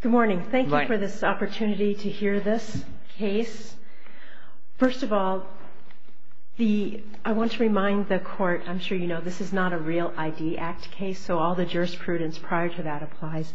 Good morning. Thank you for this opportunity to hear this case. First of all, I want to remind the court, I'm sure you know this is not a real ID Act case, so all the jurisprudence prior to that applies.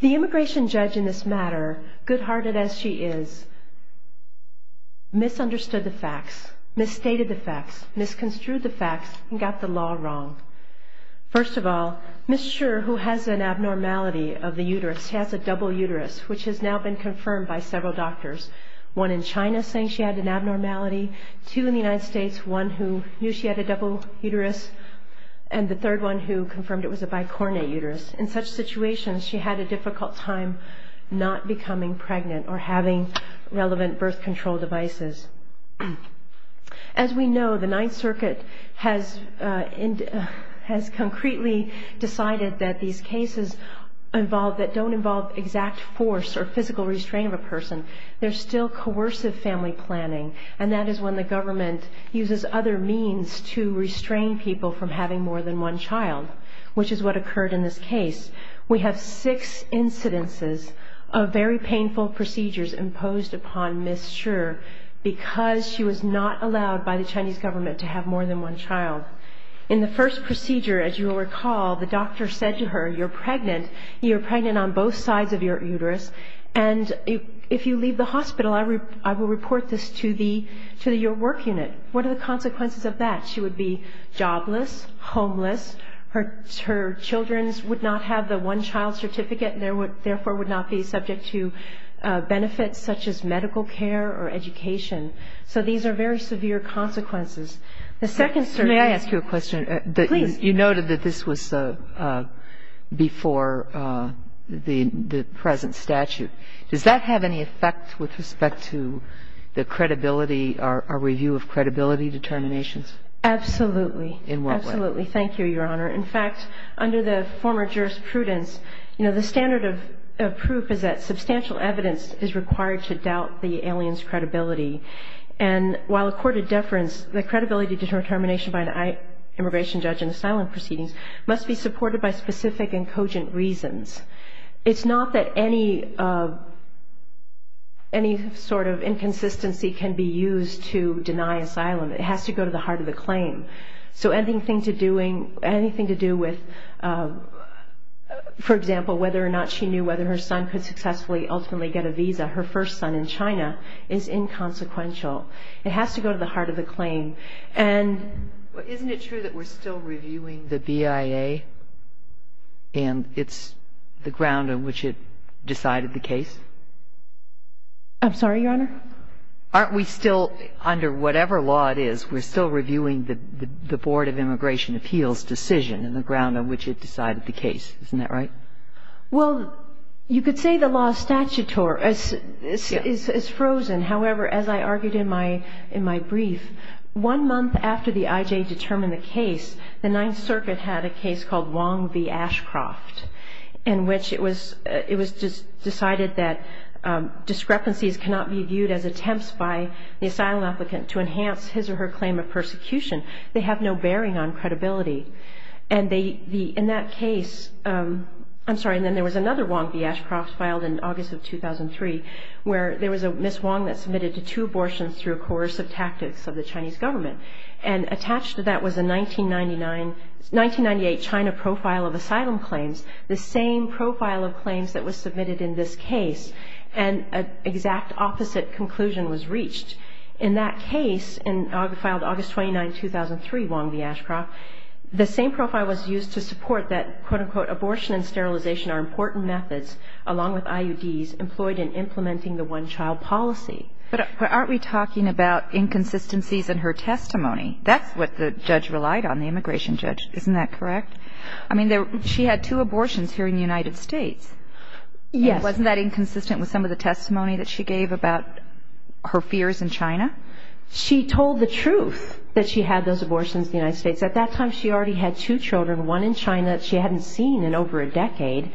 The immigration judge in this matter, good-hearted as she is, misunderstood the facts, misstated the facts, misconstrued the facts, and got the law wrong. First of all, Ms. Scher, who has an abnormality of the uterus, she has a double uterus, which has now been confirmed by several doctors. One in China saying she had an abnormality, two in the United States, one who knew she had a double uterus, and the third one who confirmed it was a bicornate uterus. In such situations, she had a difficult time not becoming pregnant or having relevant birth control devices. As we know, the Ninth Circuit has concretely decided that these cases that don't involve exact force or physical restraint of a person, they're still coercive family planning, and that is when the government uses other means to restrain people from having more than one child, which is what occurred in this case. We have six incidences of very painful procedures imposed upon Ms. Scher because she was not allowed by the Chinese government to have more than one child. In the first procedure, as you will recall, the doctor said to her, you're pregnant, you're pregnant on both sides of your uterus, and if you leave the hospital, I will report this to your work unit. What are the consequences of that? She would be jobless, homeless, her children would not have the one-child certificate, and therefore would not be subject to benefits such as medical care or education. So these are very severe consequences. The second certainty... May I ask you a question? Please. You noted that this was before the present statute. Does that have any effect with respect to the credibility or review of credibility determinations? Absolutely. In what way? Absolutely. Thank you, Your Honor. In fact, under the former jurisprudence, you know, the standard of proof is that substantial evidence is required to doubt the alien's credibility. And while accorded deference, the credibility determination by an immigration judge in asylum proceedings must be supported by specific and cogent reasons. It's not that any sort of inconsistency can be used to deny asylum. It has to go to the heart of the claim. So anything to do with, for example, whether or not she knew whether her son could successfully ultimately get a visa, her first son in China, is inconsequential. It has to go to the heart of the claim. And isn't it true that we're still reviewing the BIA and it's the ground on which it decided the case? I'm sorry, Your Honor? Aren't we still, under whatever law it is, we're still reviewing the Board of Immigration Appeals decision and the ground on which it decided the case. Isn't that right? Well, you could say the law statutor is frozen. However, as I argued in my brief, one month after the IJ determined the case, the Ninth Circuit had a case called Wong v. Ashcroft, in which it was decided that discrepancies cannot be viewed as attempts by the asylum applicant to enhance his or her claim of persecution. They have no bearing on credibility. In that case, I'm sorry, and then there was another Wong v. Ashcroft filed in August of 2003, where there was a Ms. Wong that submitted to two abortions through coercive tactics of the Chinese government. And attached to that was a 1998 China profile of asylum claims, the same profile of claims that was submitted in this case, which in that case, and filed August 29, 2003, Wong v. Ashcroft, the same profile was used to support that, quote-unquote, abortion and sterilization are important methods, along with IUDs, employed in implementing the one-child policy. But aren't we talking about inconsistencies in her testimony? That's what the judge relied on, the immigration judge. Isn't that correct? I mean, she had two abortions here in the United States. Yes. Wasn't that inconsistent with some of the testimony that she gave about her fears in China? She told the truth that she had those abortions in the United States. At that time, she already had two children, one in China that she hadn't seen in over a decade,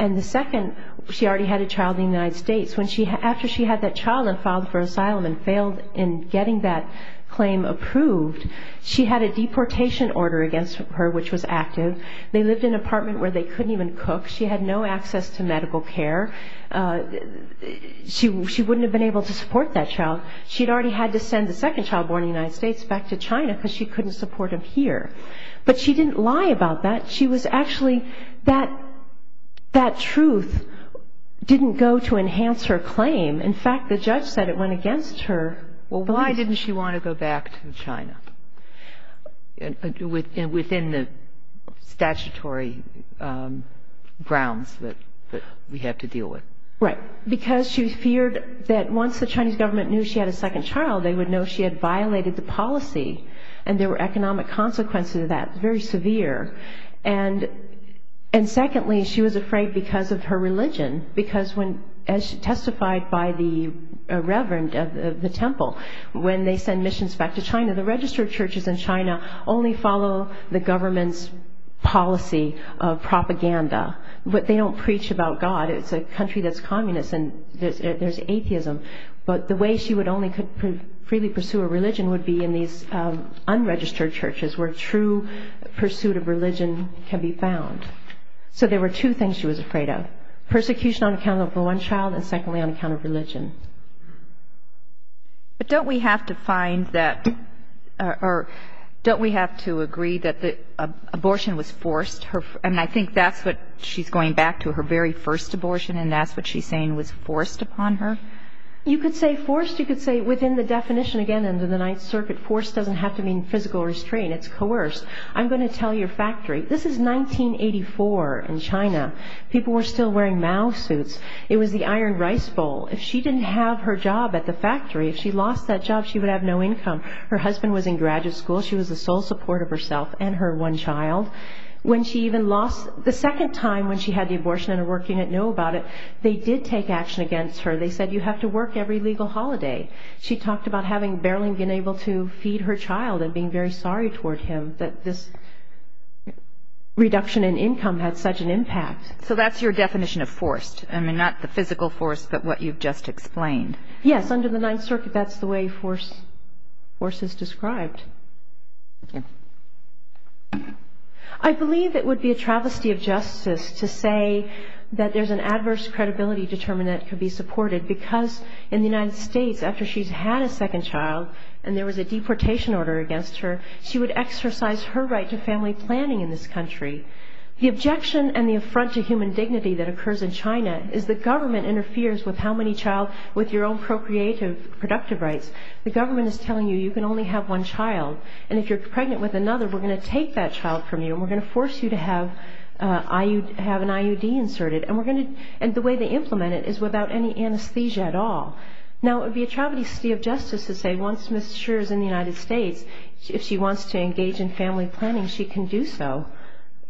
and the second, she already had a child in the United States. After she had that child and filed for asylum and failed in getting that claim approved, she had a deportation order against her, which was active. They lived in an apartment where they couldn't even cook. She had no access to medical care. She wouldn't have been able to support that child. She'd already had to send the second child born in the United States back to China because she couldn't support him here. But she didn't lie about that. She was actually that truth didn't go to enhance her claim. In fact, the judge said it went against her beliefs. Why didn't she want to go back to China within the statutory grounds that we had to deal with? Right. Because she feared that once the Chinese government knew she had a second child, they would know she had violated the policy, and there were economic consequences of that, very severe. And secondly, she was afraid because of her religion, because as testified by the reverend of the temple, when they send missions back to China, the registered churches in China only follow the government's policy of propaganda. But they don't preach about God. It's a country that's communist, and there's atheism. But the way she only could freely pursue a religion would be in these unregistered churches, where true pursuit of religion can be found. So there were two things she was afraid of, persecution on account of the one child, and secondly, on account of religion. But don't we have to find that or don't we have to agree that the abortion was forced? And I think that's what she's going back to, her very first abortion, and that's what she's saying was forced upon her. You could say forced. You could say within the definition, again, under the Ninth Circuit, forced doesn't have to mean physical restraint. It's coerced. I'm going to tell your factory. This is 1984 in China. People were still wearing Mao suits. It was the Iron Rice Bowl. If she didn't have her job at the factory, if she lost that job, she would have no income. Her husband was in graduate school. She was the sole support of herself and her one child. When she even lost, the second time when she had the abortion and her work unit knew about it, they did take action against her. They said you have to work every legal holiday. She talked about having barely been able to feed her child and being very sorry toward him that this reduction in income had such an impact. So that's your definition of forced. I mean, not the physical force, but what you've just explained. Yes, under the Ninth Circuit, that's the way forced is described. I believe it would be a travesty of justice to say that there's an adverse credibility determined that it could be supported because in the United States, after she's had a second child and there was a deportation order against her, she would exercise her right to family planning in this country. The objection and the affront to human dignity that occurs in China is the government interferes with how many child with your own procreative productive rights. The government is telling you you can only have one child. And if you're pregnant with another, we're going to take that child from you and we're going to force you to have an IUD inserted. And the way they implement it is without any anesthesia at all. Now, it would be a travesty of justice to say once Ms. Scherer is in the United States, if she wants to engage in family planning, she can do so.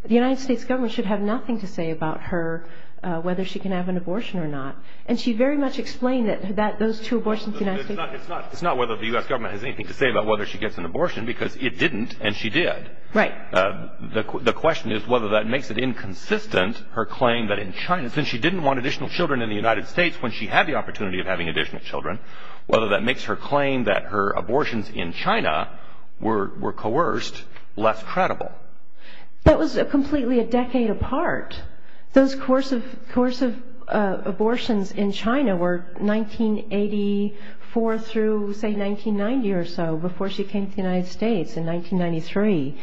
The United States government should have nothing to say about her, whether she can have an abortion or not. And she very much explained that those two abortions in the United States. It's not whether the U.S. government has anything to say about whether she gets an abortion because it didn't and she did. Right. The question is whether that makes it inconsistent, her claim that in China, since she didn't want additional children in the United States when she had the opportunity of having additional children, whether that makes her claim that her abortions in China were coerced less credible. That was completely a decade apart. Those coercive abortions in China were 1984 through, say, 1990 or so before she came to the United States in 1993.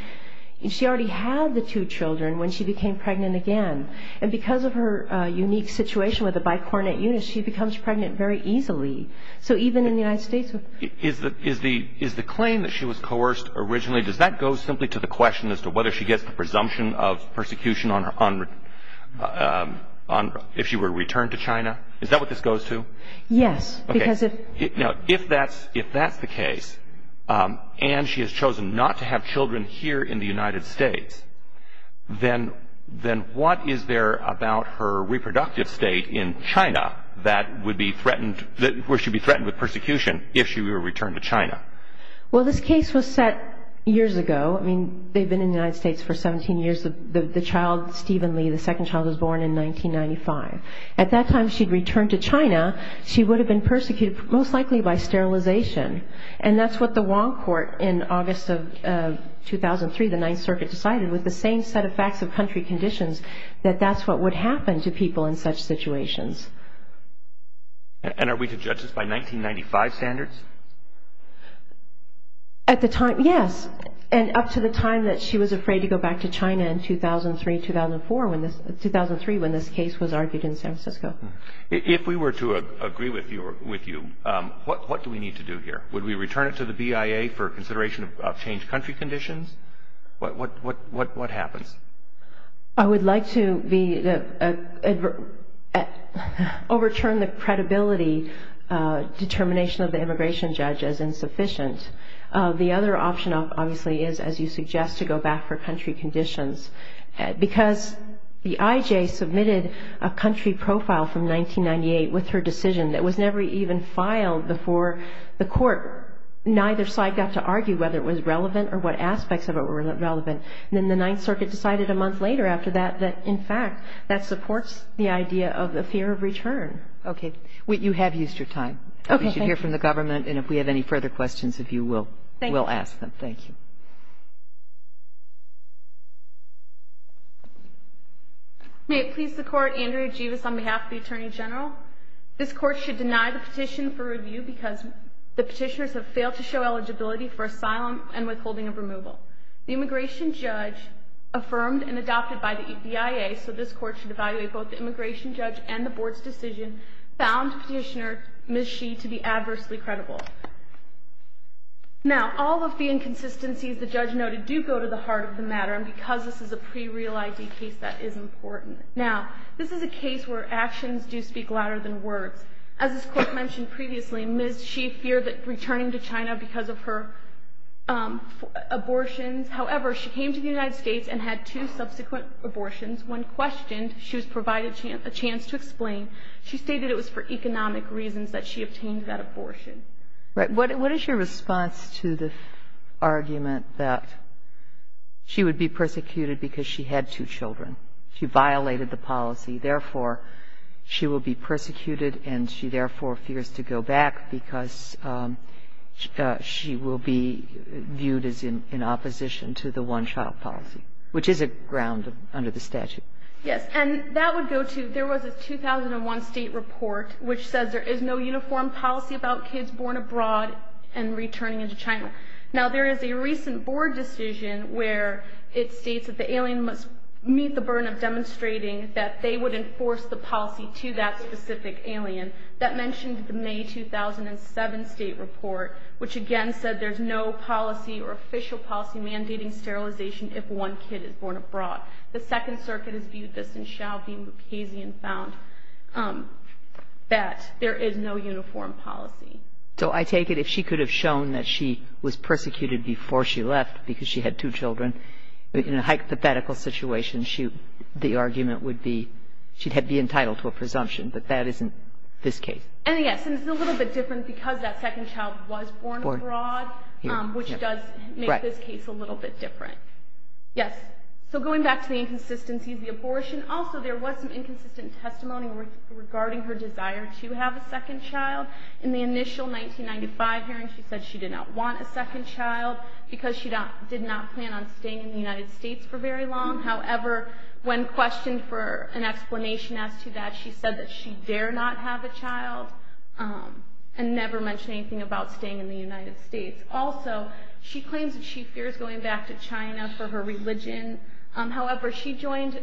She already had the two children when she became pregnant again. And because of her unique situation with a bicornate eunuch, she becomes pregnant very easily. So even in the United States. Is the claim that she was coerced originally, does that go simply to the question as to whether she gets the presumption of persecution if she were returned to China? Is that what this goes to? Yes. Okay. Now, if that's the case and she has chosen not to have children here in the United States, then what is there about her reproductive state in China where she would be threatened with persecution if she were returned to China? Well, this case was set years ago. I mean, they've been in the United States for 17 years. The child, Stephen Lee, the second child, was born in 1995. At that time, she'd returned to China. She would have been persecuted most likely by sterilization. And that's what the Wong Court in August of 2003, the Ninth Circuit, decided with the same set of facts of country conditions that that's what would happen to people in such situations. And are we to judge this by 1995 standards? At the time, yes. And up to the time that she was afraid to go back to China in 2003, 2004, 2003 when this case was argued in San Francisco. If we were to agree with you, what do we need to do here? Would we return it to the BIA for consideration of changed country conditions? What happens? I would like to overturn the credibility determination of the immigration judge as insufficient. The other option obviously is, as you suggest, to go back for country conditions. Because the IJ submitted a country profile from 1998 with her decision that was never even filed before the court. Neither side got to argue whether it was relevant or what aspects of it were relevant. And then the Ninth Circuit decided a month later after that that, in fact, that supports the idea of the fear of return. Okay. You have used your time. Okay. We should hear from the government. And if we have any further questions, if you will, we'll ask them. Thank you. Thank you. May it please the Court, Andrea Jivas on behalf of the Attorney General. This Court should deny the petition for review because the petitioners have failed to show eligibility for asylum and withholding of removal. The immigration judge, affirmed and adopted by the BIA, so this Court should evaluate both the immigration judge and the Board's decision, found Petitioner Ms. Xi to be adversely credible. Now, all of the inconsistencies the judge noted do go to the heart of the matter. And because this is a pre-real ID case, that is important. Now, this is a case where actions do speak louder than words. As this Court mentioned previously, Ms. Xi feared returning to China because of her abortions. However, she came to the United States and had two subsequent abortions. When questioned, she was provided a chance to explain. She stated it was for economic reasons that she obtained that abortion. What is your response to the argument that she would be persecuted because she had two children? She violated the policy. Therefore, she will be persecuted and she, therefore, fears to go back because she will be viewed as in opposition to the one-child policy, which is a ground under the statute. Yes. And that would go to there was a 2001 state report which says there is no uniform policy about kids born abroad and returning into China. Now, there is a recent board decision where it states that the alien must meet the burden of demonstrating that they would enforce the policy to that specific alien. That mentioned the May 2007 state report, which again said there's no policy or official policy mandating sterilization if one kid is born abroad. The Second Circuit has viewed this and shall be much hazy and found that there is no uniform policy. So I take it if she could have shown that she was persecuted before she left because she had two children, in a hypothetical situation, the argument would be she'd be entitled to a presumption. But that isn't this case. And, yes, it's a little bit different because that second child was born abroad, which does make this case a little bit different. Yes. So going back to the inconsistency of the abortion, also there was some inconsistent testimony regarding her desire to have a second child. In the initial 1995 hearing, she said she did not want a second child because she did not plan on staying in the United States for very long. However, when questioned for an explanation as to that, she said that she dare not have a child and never mentioned anything about staying in the United States. Also, she claims that she fears going back to China for her religion. However, she joined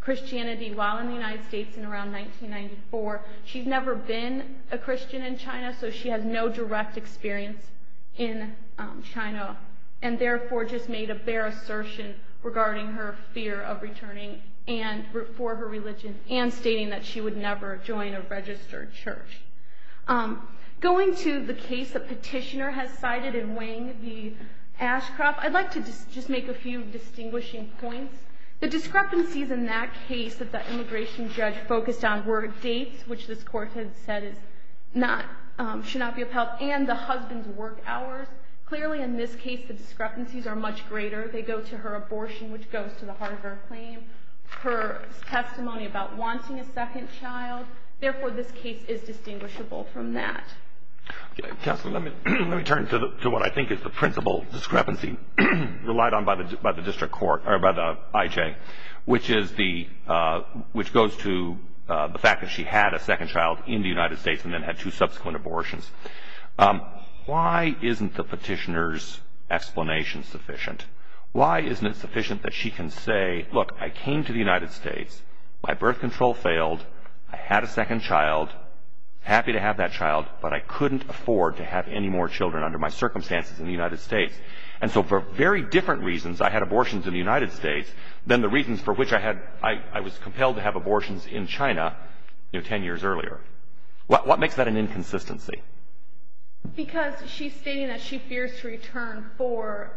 Christianity while in the United States in around 1994. She's never been a Christian in China, so she has no direct experience in China and therefore just made a bare assertion regarding her fear of returning for her religion and stating that she would never join a registered church. Going to the case the petitioner has cited in Wang v. Ashcroft, I'd like to just make a few distinguishing points. The discrepancies in that case that the immigration judge focused on were dates, which this court has said should not be of help, and the husband's work hours. Clearly, in this case, the discrepancies are much greater. They go to her abortion, which goes to the Harvard claim, her testimony about wanting a second child. Therefore, this case is distinguishable from that. Counselor, let me turn to what I think is the principal discrepancy relied on by the IJ, which goes to the fact that she had a second child in the United States and then had two subsequent abortions. Why isn't the petitioner's explanation sufficient? Why isn't it sufficient that she can say, Look, I came to the United States, my birth control failed, I had a second child, happy to have that child, but I couldn't afford to have any more children under my circumstances in the United States. And so for very different reasons, I had abortions in the United States than the reasons for which I was compelled to have abortions in China 10 years earlier. What makes that an inconsistency? Because she's stating that she fears to return for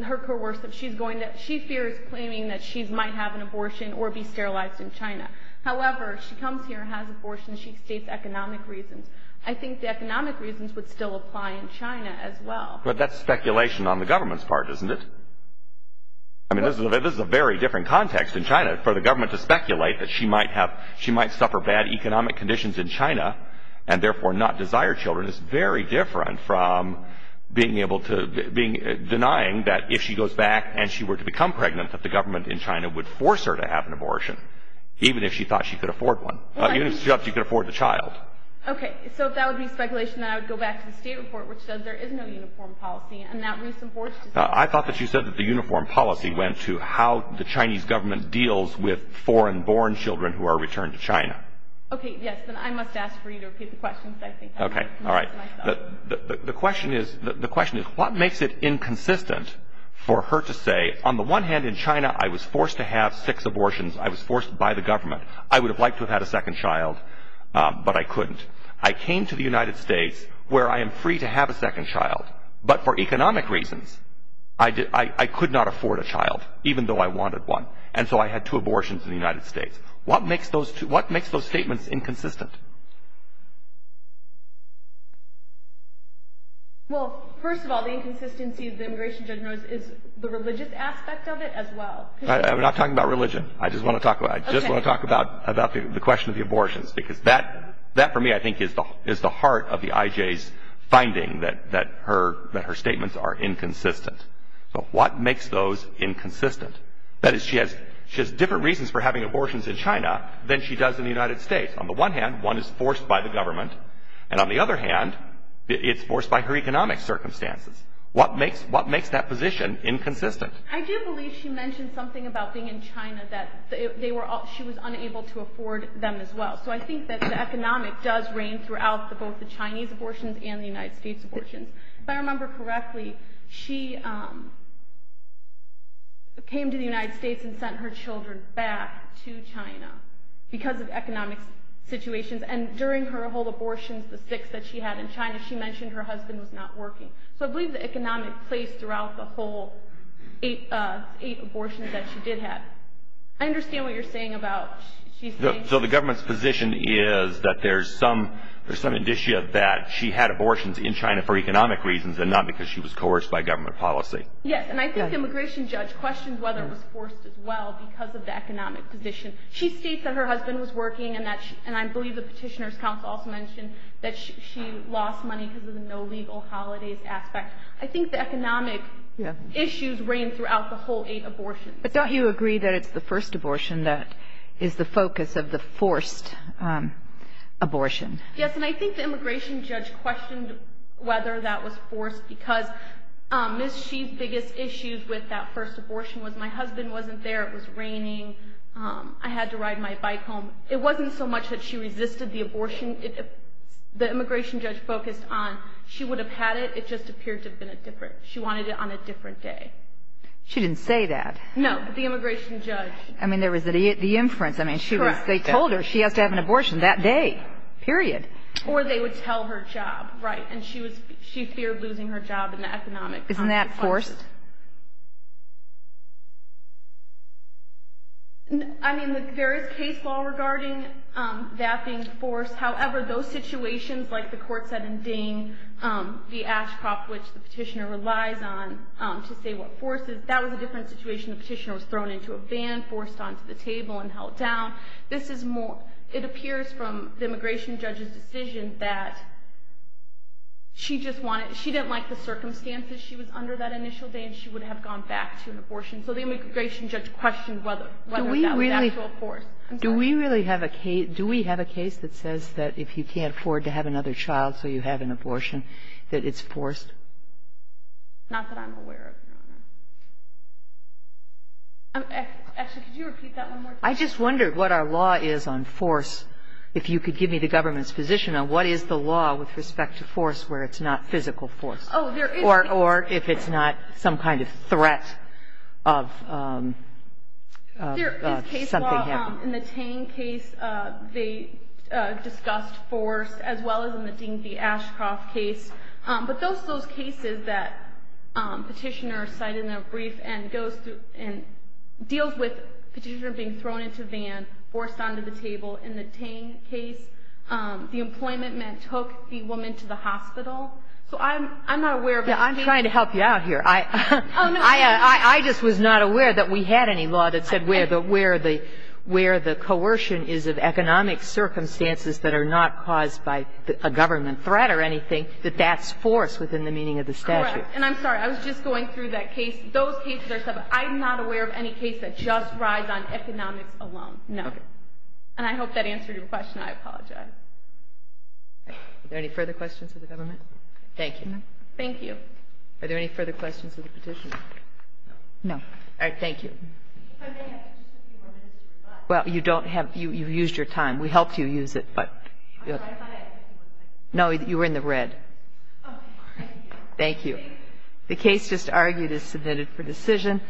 her worship. She fears claiming that she might have an abortion or be sterilized in China. However, she comes here and has abortions. She states economic reasons. I think the economic reasons would still apply in China as well. But that's speculation on the government's part, isn't it? I mean, this is a very different context in China. For the government to speculate that she might suffer bad economic conditions in China and therefore not desire children is very different from denying that if she goes back and she were to become pregnant, that the government in China would force her to have an abortion, even if she thought she could afford one. Even if she thought she could afford the child. Okay, so if that would be speculation, then I would go back to the state report which says there is no uniform policy. I thought that you said that the uniform policy went to how the Chinese government deals with foreign-born children who are returned to China. Okay, yes, then I must ask for you to repeat the question. Okay, all right. The question is, what makes it inconsistent for her to say, on the one hand in China I was forced to have six abortions, I was forced by the government, I would have liked to have had a second child, but I couldn't. I came to the United States where I am free to have a second child, but for economic reasons I could not afford a child, even though I wanted one. And so I had two abortions in the United States. What makes those statements inconsistent? Well, first of all, the inconsistency of the immigration judge is the religious aspect of it as well. I'm not talking about religion. I just want to talk about the question of the abortions, because that for me I think is the heart of the IJ's finding that her statements are inconsistent. So what makes those inconsistent? That is, she has different reasons for having abortions in China than she does in the United States. On the one hand, one is forced by the government, and on the other hand, it's forced by her economic circumstances. What makes that position inconsistent? I do believe she mentioned something about being in China that she was unable to afford them as well. So I think that the economic does reign throughout both the Chinese abortions and the United States abortions. If I remember correctly, she came to the United States and sent her children back to China because of economic situations. And during her whole abortions, the six that she had in China, she mentioned her husband was not working. So I believe the economic plays throughout the whole eight abortions that she did have. I understand what you're saying about... So the government's position is that there's some indicia that she had abortions in China for economic reasons and not because she was coerced by government policy. Yes, and I think the immigration judge questioned whether it was forced as well because of the economic position. She states that her husband was working, and I believe the petitioner's counsel also mentioned that she lost money because of the no legal holidays aspect. I think the economic issues reign throughout the whole eight abortions. But don't you agree that it's the first abortion that is the focus of the forced abortion? Yes, and I think the immigration judge questioned whether that was forced because Ms. Xi's biggest issues with that first abortion was my husband wasn't there, it was raining, I had to ride my bike home. It wasn't so much that she resisted the abortion. The immigration judge focused on she would have had it, it just appeared to have been a different... She wanted it on a different day. She didn't say that. No, but the immigration judge... I mean, there was the inference. I mean, they told her she has to have an abortion that day. Period. Or they would tell her job, right, and she feared losing her job in the economic context. Isn't that forced? I mean, there is case law regarding that being forced. However, those situations, like the court said in Dane, the ash crop which the petitioner relies on to say what force is, that was a different situation. The petitioner was thrown into a van, forced onto the table, and held down. It appears from the immigration judge's decision that she just wanted... She didn't like the circumstances she was under that initial day and she would have gone back to an abortion. So the immigration judge questioned whether that was actual force. Do we really have a case that says that if you can't afford to have another child so you have an abortion, that it's forced? Not that I'm aware of, Your Honor. Actually, could you repeat that one more time? I just wondered what our law is on force, if you could give me the government's position on what is the law with respect to force where it's not physical force. Or if it's not some kind of threat of something happening. There is case law in the Dane case. They discussed force as well as in the Dane v. Ashcroft case. But those cases that petitioner cited in a brief deals with petitioner being thrown into a van, forced onto the table. In the Dane case, the employment man took the woman to the hospital. So I'm not aware of... I'm trying to help you out here. I just was not aware that we had any law that said where the coercion is of economic circumstances that are not caused by a government threat or anything, that that's force within the meaning of the statute. Correct. And I'm sorry. I was just going through that case. Those cases are separate. I'm not aware of any case that just rides on economics alone. No. And I hope that answered your question. I apologize. Are there any further questions of the government? Thank you. Thank you. Are there any further questions of the petitioner? No. All right. Thank you. Well, you don't have... You've used your time. We helped you use it, but... No, you were in the red. Thank you. The case just argued is submitted for decision.